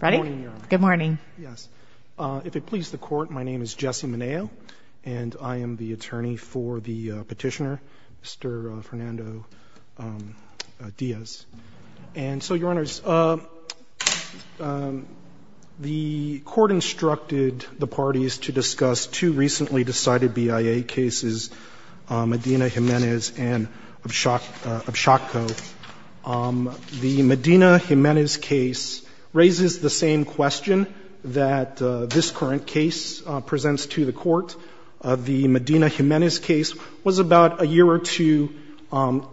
Ready? Good morning. Yes. If it pleases the Court, my name is Jesse Meneo, and I am the attorney for the petitioner, Mr. Fernando Diaz. And so, Your Honors, the Court instructed the parties to discuss two recently decided BIA cases, Medina-Jimenez and Abshokko. Now, the Medina-Jimenez case raises the same question that this current case presents to the Court. The Medina-Jimenez case was about a year or two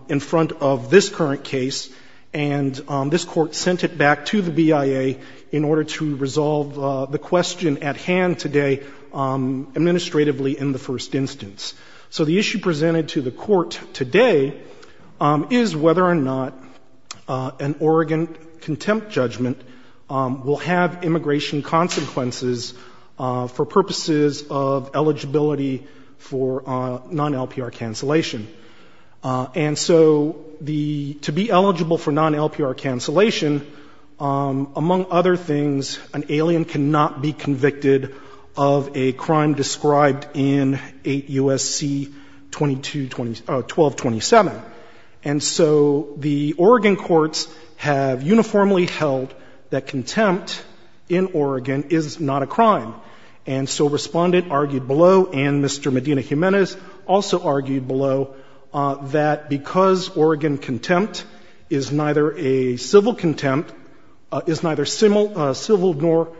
in front of this current case, and this Court sent it back to the BIA in order to resolve the question at hand today administratively in the first instance. So the issue presented to the Court today is whether or not an Oregon contempt judgment will have immigration consequences for purposes of eligibility for non-LPR cancellation. And so the — to be eligible for non-LPR cancellation, among other things, an alien can not be convicted of a crime described in 8 U.S.C. 1227. And so the Oregon courts have uniformly held that contempt in Oregon is not a crime. And so Respondent argued below, and Mr. Medina-Jimenez also argued below, that because Oregon contempt is neither a civil contempt, is neither civil nor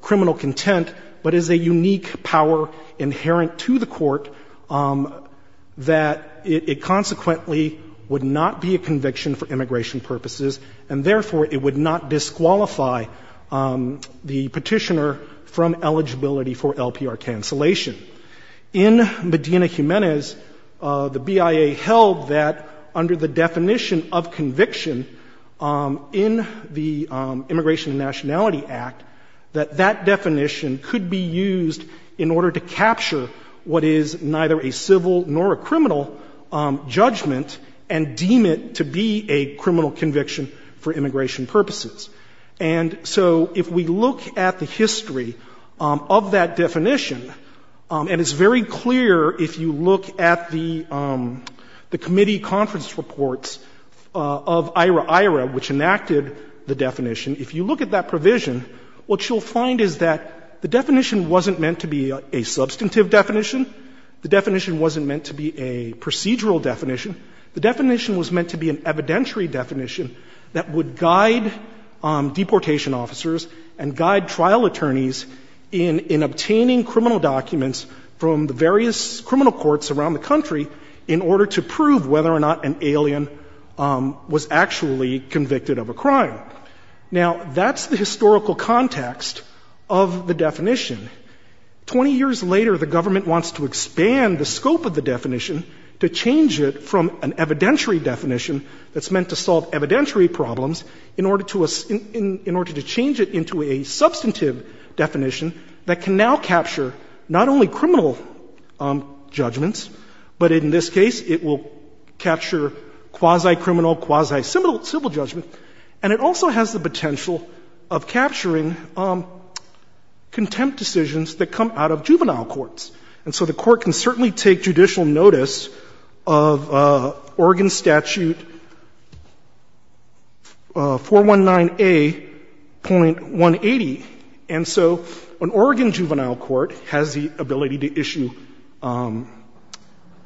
criminal contempt, but is a unique power inherent to the Court, that it consequently would not be a conviction for immigration purposes, and therefore it would not disqualify the petitioner from eligibility for LPR cancellation. In Medina-Jimenez, the BIA held that under the definition of conviction in the Immigration and Nationality Act, that that definition could be used in order to capture what is neither a civil nor a criminal judgment and deem it to be a criminal conviction for immigration purposes. And so if we look at the history of that definition, and it's very clear if you look at the committee conference reports of IRAIRA, which enacted the definition, if you look at that provision, what you'll find is that the definition wasn't meant to be a substantive definition. The definition wasn't meant to be a procedural definition. The definition was meant to be an evidentiary definition that would guide deportation officers and guide trial attorneys in obtaining criminal documents from the various criminal courts around the country in order to prove whether or not an alien was actually convicted of a crime. Now, that's the historical context of the definition. Twenty years later, the government wants to expand the scope of the definition to change it from an evidentiary definition that's meant to solve evidentiary problems in order to change it into a substantive definition that can now capture not only criminal judgments, but in this case, it will capture quasi-criminal, quasi-civil judgment. And it also has the potential of capturing contempt decisions that come out of juvenile courts. And so the Court can certainly take judicial notice of Oregon Statute 419A.180. And so an Oregon juvenile court has the ability to issue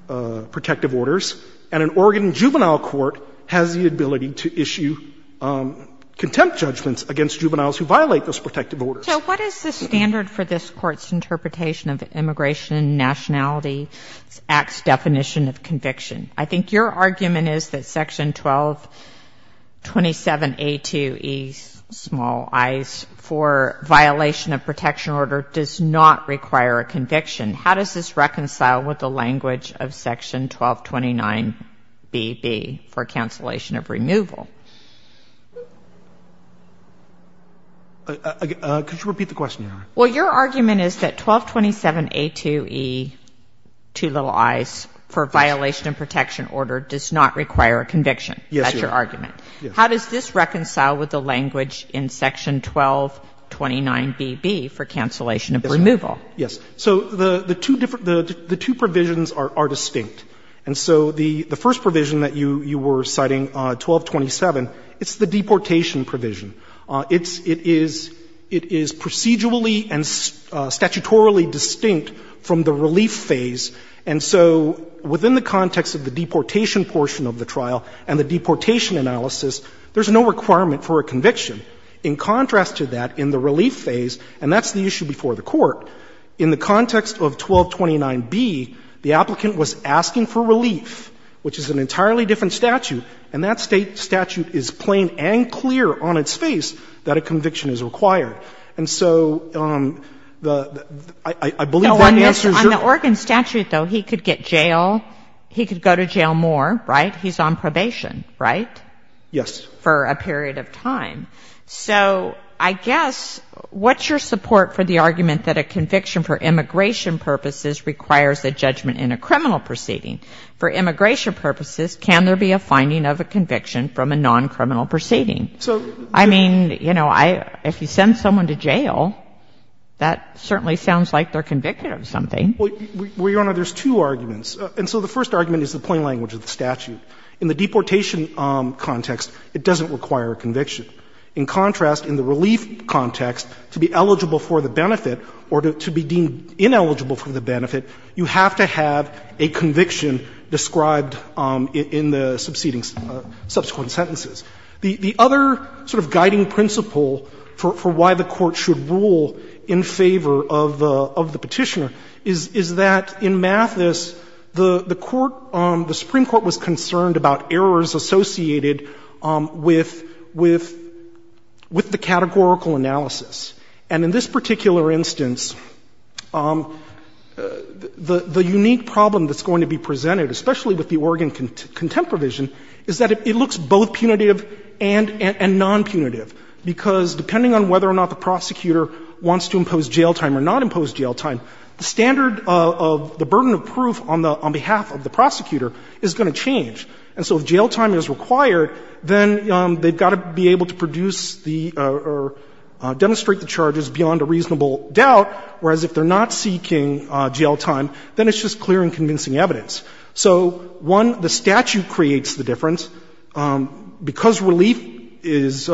protective orders, and an Oregon juvenile court has the ability to issue contempt judgments against juveniles who violate those protective orders. So what is the standard for this Court's interpretation of immigration nationality act's definition of conviction? I think your argument is that Section 1227A2E, small i's, for violation of protection order does not require a conviction. How does this reconcile with the language of Section 1229BB for cancellation of removal? Could you repeat the question, Your Honor? Well, your argument is that 1227A2E, two little i's, for violation of protection order does not require a conviction. Yes, Your Honor. That's your argument. Yes. How does this reconcile with the language in Section 1229BB for cancellation of removal? Yes. So the two different the two provisions are distinct. And so the first provision that you were citing, 1227, it's the deportation provision. It is procedurally and statutorily distinct from the relief phase. And so within the context of the deportation portion of the trial and the deportation analysis, there's no requirement for a conviction. In contrast to that, in the relief phase, and that's the issue before the Court, in the context of 1229B, the applicant was asking for relief, which is an entirely different statute, and that statute is plain and clear on its face that a conviction is required. And so the — I believe that answers your question. On the Oregon statute, though, he could get jail, he could go to jail more, right? He's on probation, right? Yes. For a period of time. So I guess, what's your support for the argument that a conviction for immigration purposes requires a judgment in a criminal proceeding? For immigration purposes, can there be a finding of a conviction from a non-criminal proceeding? So I mean, you know, if you send someone to jail, that certainly sounds like they're convicted of something. Well, Your Honor, there's two arguments. And so the first argument is the plain language of the statute. In the deportation context, it doesn't require a conviction. In contrast, in the relief context, to be eligible for the benefit or to be deemed ineligible for the benefit, you have to have a conviction described in the subsequent sentences. The other sort of guiding principle for why the Court should rule in favor of the Petitioner is that in Mathis, the Court, the Supreme Court was concerned about errors associated with the categorical analysis. And in this particular instance, the unique problem that's going to be presented, especially with the Oregon contempt provision, is that it looks both punitive and non-punitive. Because depending on whether or not the prosecutor wants to impose jail time or not impose jail time, the standard of the burden of proof on behalf of the prosecutor is going to change. And so if jail time is required, then they've got to be able to produce the or demonstrate the charges beyond a reasonable doubt, whereas if they're not seeking jail time, then it's just clearing convincing evidence. So, one, the statute creates the difference. Because relief is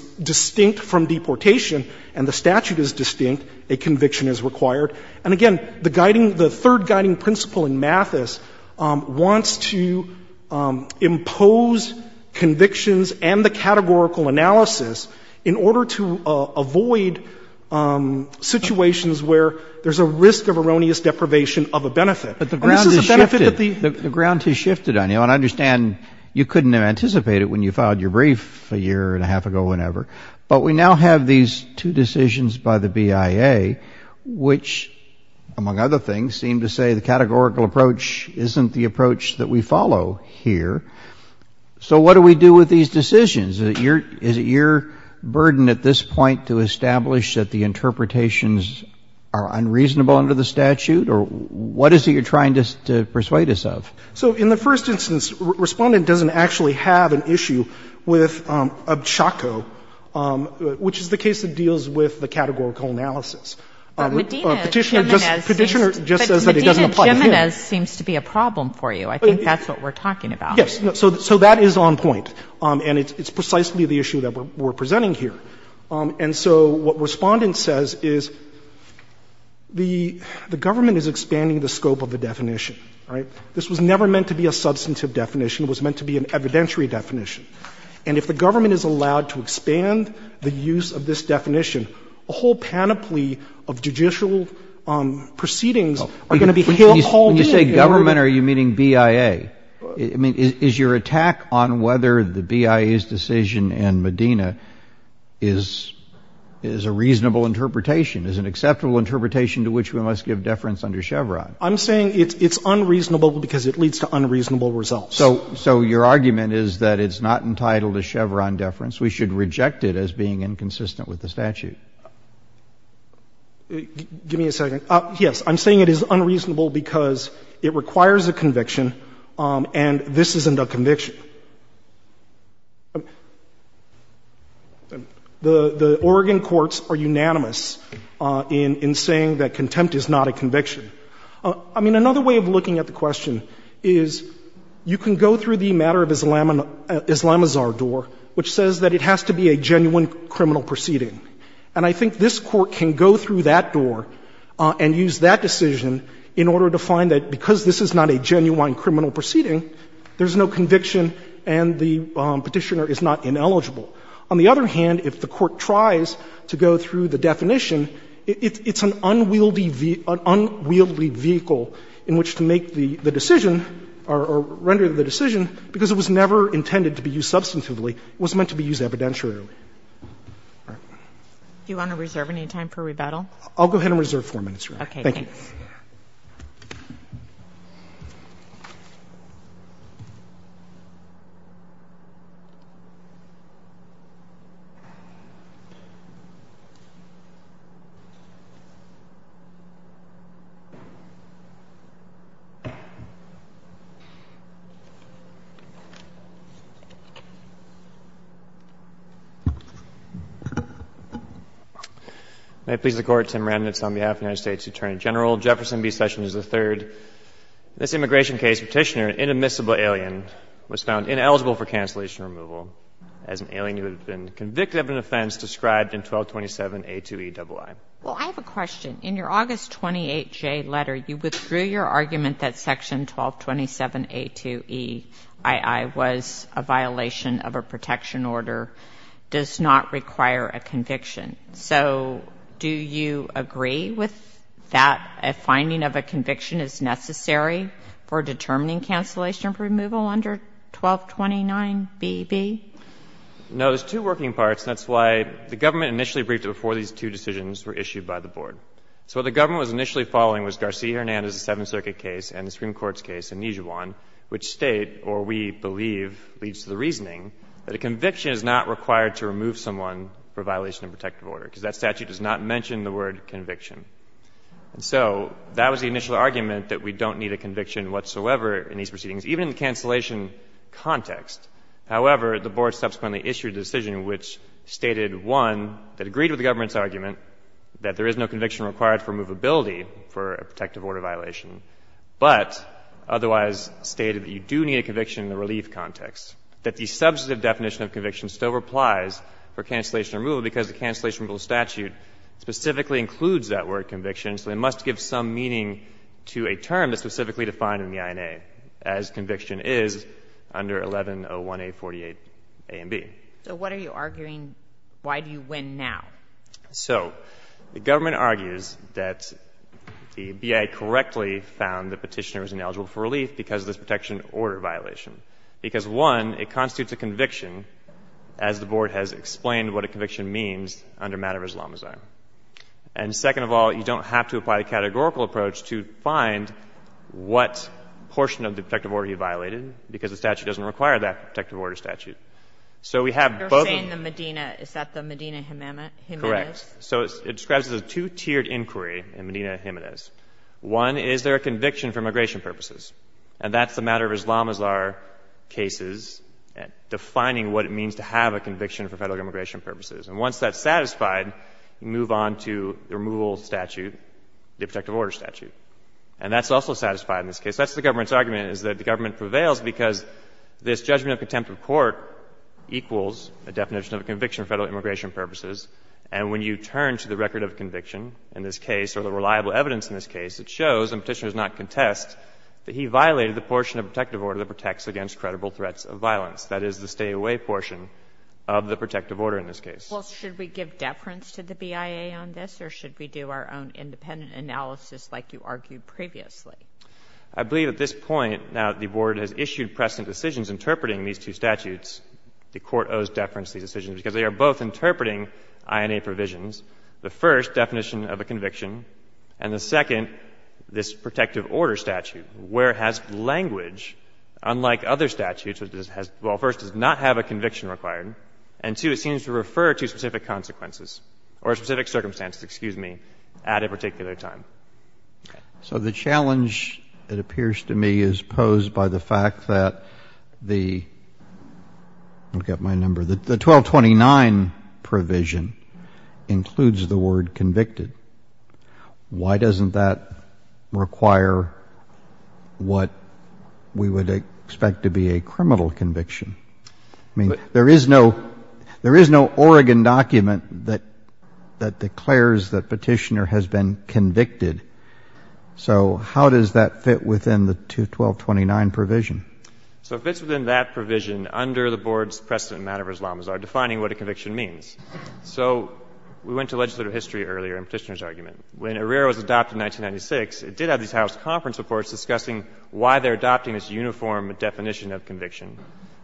distinct from deportation and the statute is distinct, a conviction is required. And again, the guiding, the third guiding principle in Mathis wants to impose convictions and the categorical analysis in order to avoid situations where there's a risk of erroneous deprivation of a benefit. But the ground has shifted. But this is a benefit that the ground has shifted on. I understand you couldn't have anticipated when you filed your brief a year and a half ago, whenever. But we now have these two decisions by the BIA, which, among other things, seem to say the categorical approach isn't the approach that we follow here. So what do we do with these decisions? Is it your burden at this point to establish that the interpretations are unreasonable under the statute? Or what is it you're trying to persuade us of? So in the first instance, Respondent doesn't actually have an issue with Obchocko, which is the case that deals with the categorical analysis. Petitioner just says that it doesn't apply to him. But Medina-Gimenez seems to be a problem for you. I think that's what we're talking about. Yes. So that is on point. And it's precisely the issue that we're presenting here. And so what Respondent says is the government is expanding the scope of the definition. All right? This was never meant to be a substantive definition. It was meant to be an evidentiary definition. And if the government is allowed to expand the use of this definition, a whole panoply of judicial proceedings are going to be held here all day. When you say government, are you meaning BIA? I mean, is your attack on whether the BIA's decision and Medina is a reasonable interpretation, is an acceptable interpretation to which we must give deference under Chevron? I'm saying it's unreasonable because it leads to unreasonable results. So your argument is that it's not entitled to Chevron deference. We should reject it as being inconsistent with the statute. Give me a second. Yes. I'm saying it is unreasonable because it requires a conviction. And this isn't a conviction. The Oregon courts are unanimous in saying that contempt is not a conviction. I mean, another way of looking at the question is you can go through the matter of Islamazar door, which says that it has to be a genuine criminal proceeding. And I think this Court can go through that door and use that decision in order to find that because this is not a genuine criminal proceeding, there's no conviction and the Petitioner is not ineligible. On the other hand, if the Court tries to go through the definition, it's an unwieldy vehicle in which to make the decision or render the decision, because it was never intended to be used substantively, it was meant to be used evidentiarily. All right. Do you want to reserve any time for rebuttal? I'll go ahead and reserve 4 minutes, Your Honor. Okay. Thank you. May it please the Court, Tim Remnitz, on behalf of the United States Attorney General, Jefferson B. Sessions III, in this immigration case, Petitioner, an inadmissible alien, was found ineligible for cancellation and removal as an alien who had been convicted of an offense described in 1227A2Eii. Well, I have a question. In your August 28, Jay, letter, you withdrew your argument that section 1227A2Eii was a violation of a protection order, does not require a conviction. So do you agree with that, a finding of a conviction is necessary for determining cancellation of removal under 1229BB? No. There's two working parts, and that's why the government initially briefed it before these two decisions were issued by the board. So what the government was initially following was Garcia Hernandez's Seventh Circuit case and the Supreme Court's case in Nijuan, which state, or we believe, leads to the reasoning that a conviction is not required to remove someone for violation of a protective order, because that statute does not mention the word conviction. And so that was the initial argument that we don't need a conviction whatsoever in these proceedings, even in the cancellation context. However, the board subsequently issued a decision which stated, one, that agreed with the government's argument that there is no conviction required for removability for a protective order violation, but otherwise stated that you do need a conviction in the relief context, that the substantive definition of conviction still applies for cancellation removal because the cancellation removal statute specifically includes that word conviction, so it must give some meaning to a term that's specifically defined in the INA as conviction is under 1101A48A and B. So what are you arguing? Why do you win now? So the government argues that the BIA correctly found the Petitioner was ineligible for relief because of this protection order violation, because, one, it constitutes a conviction, as the board has explained what a conviction means under matter of Islamazaar. And second of all, you don't have to apply the categorical approach to find what portion of the protective order you violated, because the statute doesn't require that protective order statute. So we have both of them. You're saying the Medina. Is that the Medina Jimenez? Correct. So it describes a two-tiered inquiry in Medina Jimenez. One, is there a conviction for immigration purposes? And that's the matter of Islamazaar cases, defining what it means to have a conviction for Federal immigration purposes. And once that's satisfied, you move on to the removal statute, the protective order statute. And that's also satisfied in this case. That's the government's argument, is that the government prevails because this judgment of contempt of court equals a definition of a conviction for Federal immigration purposes. And when you turn to the record of conviction in this case, or the reliable evidence in this case, it shows, and Petitioner does not contest, that he violated the portion of protective order that protects against credible threats of violence. That is the stay-away portion of the protective order in this case. Well, should we give deference to the BIA on this, or should we do our own independent analysis like you argued previously? I believe at this point, now, the Board has issued present decisions interpreting these two statutes. The Court owes deference to these decisions, because they are both interpreting INA provisions. The first, definition of a conviction. And the second, this protective order statute, where it has language unlike other statutes, which has, well, first, does not have a conviction required. And, two, it seems to refer to specific consequences or specific circumstances, excuse me, at a particular time. So the challenge, it appears to me, is posed by the fact that the 1229 provision includes the word convicted. Why doesn't that require what we would expect to be a criminal conviction? I mean, there is no Oregon document that declares that Petitioner has been convicted or convicted. So how does that fit within the 1229 provision? So it fits within that provision under the Board's precedent in manner of Islamazar defining what a conviction means. So we went to legislative history earlier in Petitioner's argument. When ARREA was adopted in 1996, it did have these House conference reports discussing why they're adopting this uniform definition of conviction.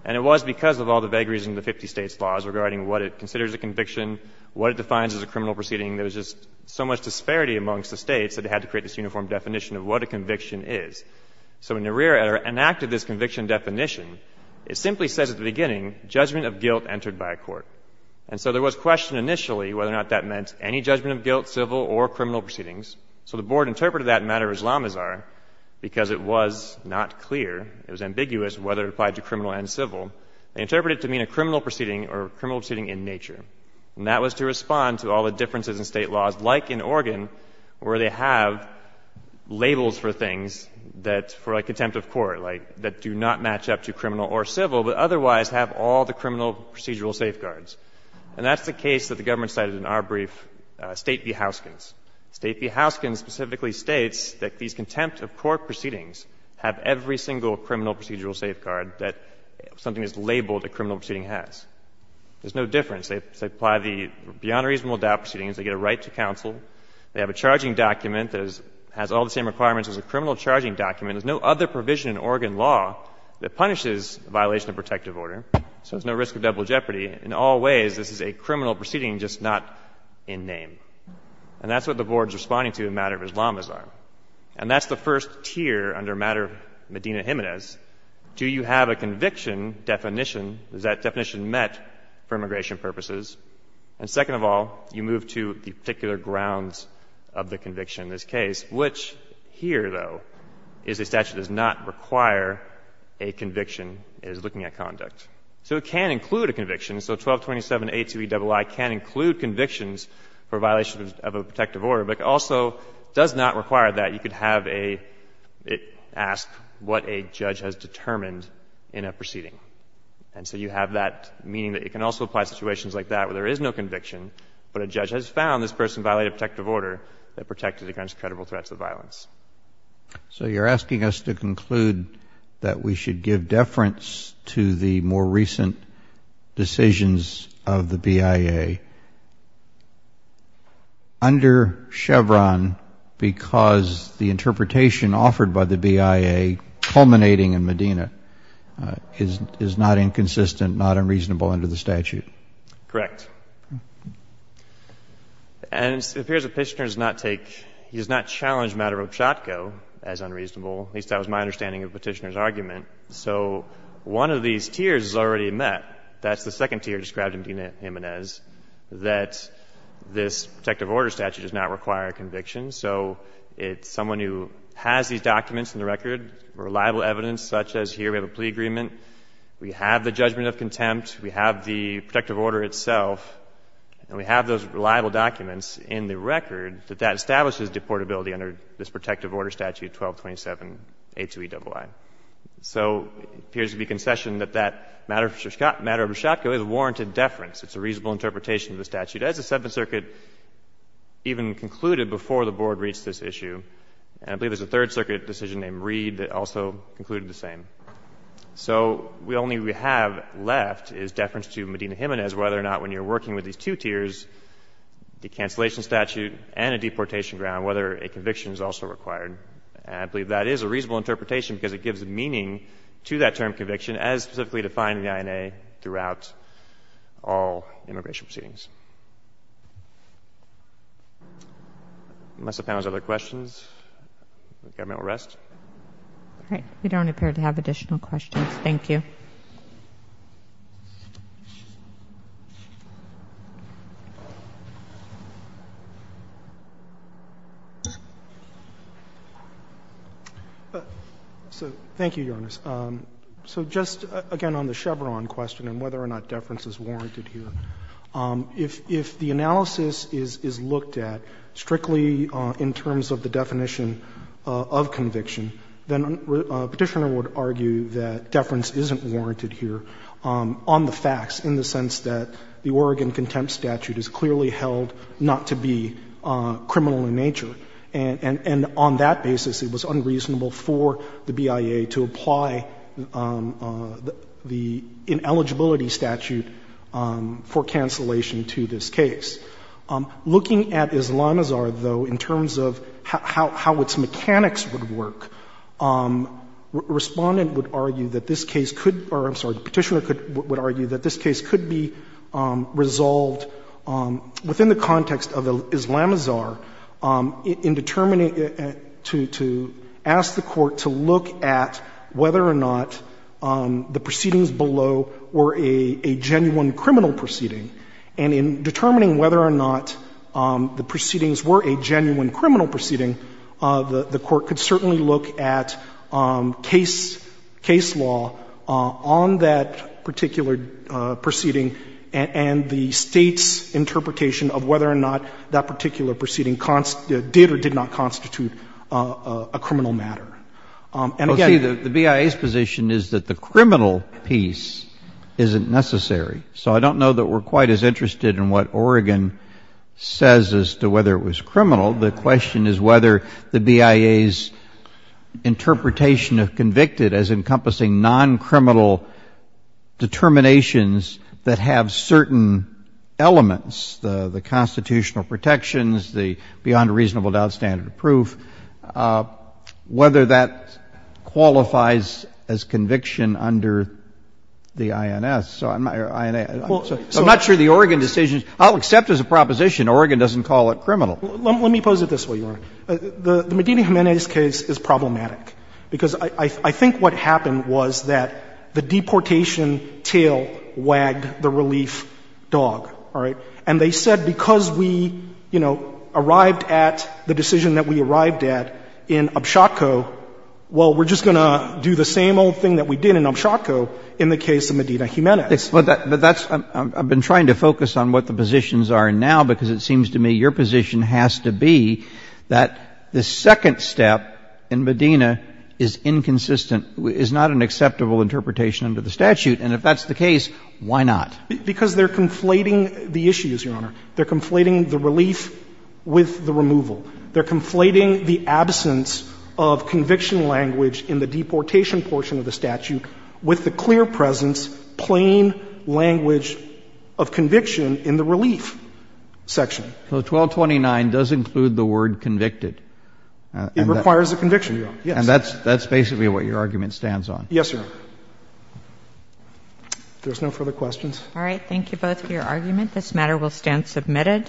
And it was because of all the vagaries in the 50 states' laws regarding what it considers a conviction, what it defines as a criminal proceeding. There was just so much disparity amongst the states that they had to create this uniform definition of what a conviction is. So when ARREA enacted this conviction definition, it simply says at the beginning, judgment of guilt entered by a court. And so there was question initially whether or not that meant any judgment of guilt, civil, or criminal proceedings. So the Board interpreted that matter Islamazar because it was not clear, it was ambiguous whether it applied to criminal and civil. They interpreted it to mean a criminal proceeding or a criminal proceeding in nature. And that was to respond to all the differences in state laws, like in Oregon, where they have labels for things that, for contempt of court, like that do not match up to criminal or civil, but otherwise have all the criminal procedural safeguards. And that's the case that the government cited in our brief, State v. Houskins. State v. Houskins specifically states that these contempt of court proceedings have every single criminal procedural safeguard that something is labeled a criminal proceeding has. There's no difference. They apply the beyond reasonable doubt proceedings. They get a right to counsel. They have a charging document that has all the same requirements as a criminal charging document. There's no other provision in Oregon law that punishes violation of protective order. So there's no risk of double jeopardy. In all ways, this is a criminal proceeding, just not in name. And that's what the Board is responding to in matter of Islamazar. And that's the first tier under matter Medina Jimenez. Do you have a conviction definition? Is that definition met for immigration purposes? And second of all, you move to the particular grounds of the conviction in this case, which here, though, is a statute that does not require a conviction. It is looking at conduct. So it can include a conviction. So 1227A2EII can include convictions for violation of a protective order, but it also does not require that. You could have a — ask what a judge has determined in a proceeding. And so you have that meaning that it can also apply to situations like that where there is no conviction, but a judge has found this person violated protective order that protected against credible threats of violence. So you're asking us to conclude that we should give deference to the more recent decisions of the BIA. Under Chevron, because the interpretation offered by the BIA culminating in Medina Jimenez is not inconsistent, not unreasonable under the statute. Correct. And it appears that Petitioner does not take — he does not challenge matter of Pshatko as unreasonable. At least that was my understanding of Petitioner's argument. So one of these tiers is already met. That's the second tier described in Medina Jimenez, that this protective order statute does not require a conviction. So it's someone who has these documents in the record, reliable evidence such as here we have a plea agreement. We have the judgment of contempt. We have the protective order itself. And we have those reliable documents in the record that that establishes deportability under this protective order statute 1227A2Eii. So it appears to be concession that that matter of Pshatko is warranted deference. It's a reasonable interpretation of the statute. As the Seventh Circuit even concluded before the Board reached this issue, and I believe there's a Third Circuit decision named Reed that also concluded the same. So the only we have left is deference to Medina Jimenez whether or not when you're working with these two tiers, the cancellation statute and a deportation ground, whether a conviction is also required. And I believe that is a reasonable interpretation because it gives meaning to that term conviction as specifically defined in the INA throughout all immigration proceedings. Unless the panel has other questions, the government will rest. All right. We don't appear to have additional questions. Thank you. So thank you, Your Honor. So just again on the Chevron question and whether or not deference is warranted here, if the analysis is looked at strictly in terms of the definition of conviction, then a Petitioner would argue that deference isn't warranted here on the facts, in the sense that the Oregon contempt statute is clearly held not to be criminal in nature. And on that basis, it was unreasonable for the BIA to apply the ineligibility statute for cancellation to this case. Looking at Islamazar, though, in terms of how its mechanics would work, Respondent would argue that this case could or, I'm sorry, the Petitioner would argue that this case could be resolved within the context of Islamazar in determining, to ask the BIA to determine whether or not the proceedings were a genuine criminal proceeding. The Court could certainly look at case law on that particular proceeding and the State's interpretation of whether or not that particular proceeding did or did not constitute a criminal matter. And again the BIA's position is that the criminal piece isn't necessarily So I don't know that we're quite as interested in what Oregon says as to whether it was criminal. The question is whether the BIA's interpretation of convicted as encompassing non-criminal determinations that have certain elements, the constitutional protections, the beyond reasonable doubt standard of proof, whether that qualifies as conviction under the INS. So I'm not sure the Oregon decision, I'll accept as a proposition Oregon doesn't call it criminal. Let me pose it this way, Your Honor. The Medina Jimenez case is problematic because I think what happened was that the deportation tail wagged the relief dog, all right? And they said because we, you know, arrived at the decision that we arrived at in Abshotko, well, we're just going to do the same old thing that we did in Abshotko in the case of Medina Jimenez. But that's, I've been trying to focus on what the positions are now because it seems to me your position has to be that the second step in Medina is inconsistent, is not an acceptable interpretation under the statute, and if that's the case, why not? Because they're conflating the issues, Your Honor. They're conflating the relief with the removal. They're conflating the absence of conviction language in the deportation portion of the statute with the clear presence, plain language of conviction in the relief section. So 1229 does include the word convicted. It requires a conviction, Your Honor. Yes. And that's basically what your argument stands on. Yes, Your Honor. If there's no further questions. All right. Thank you both for your argument. This matter will stand submitted.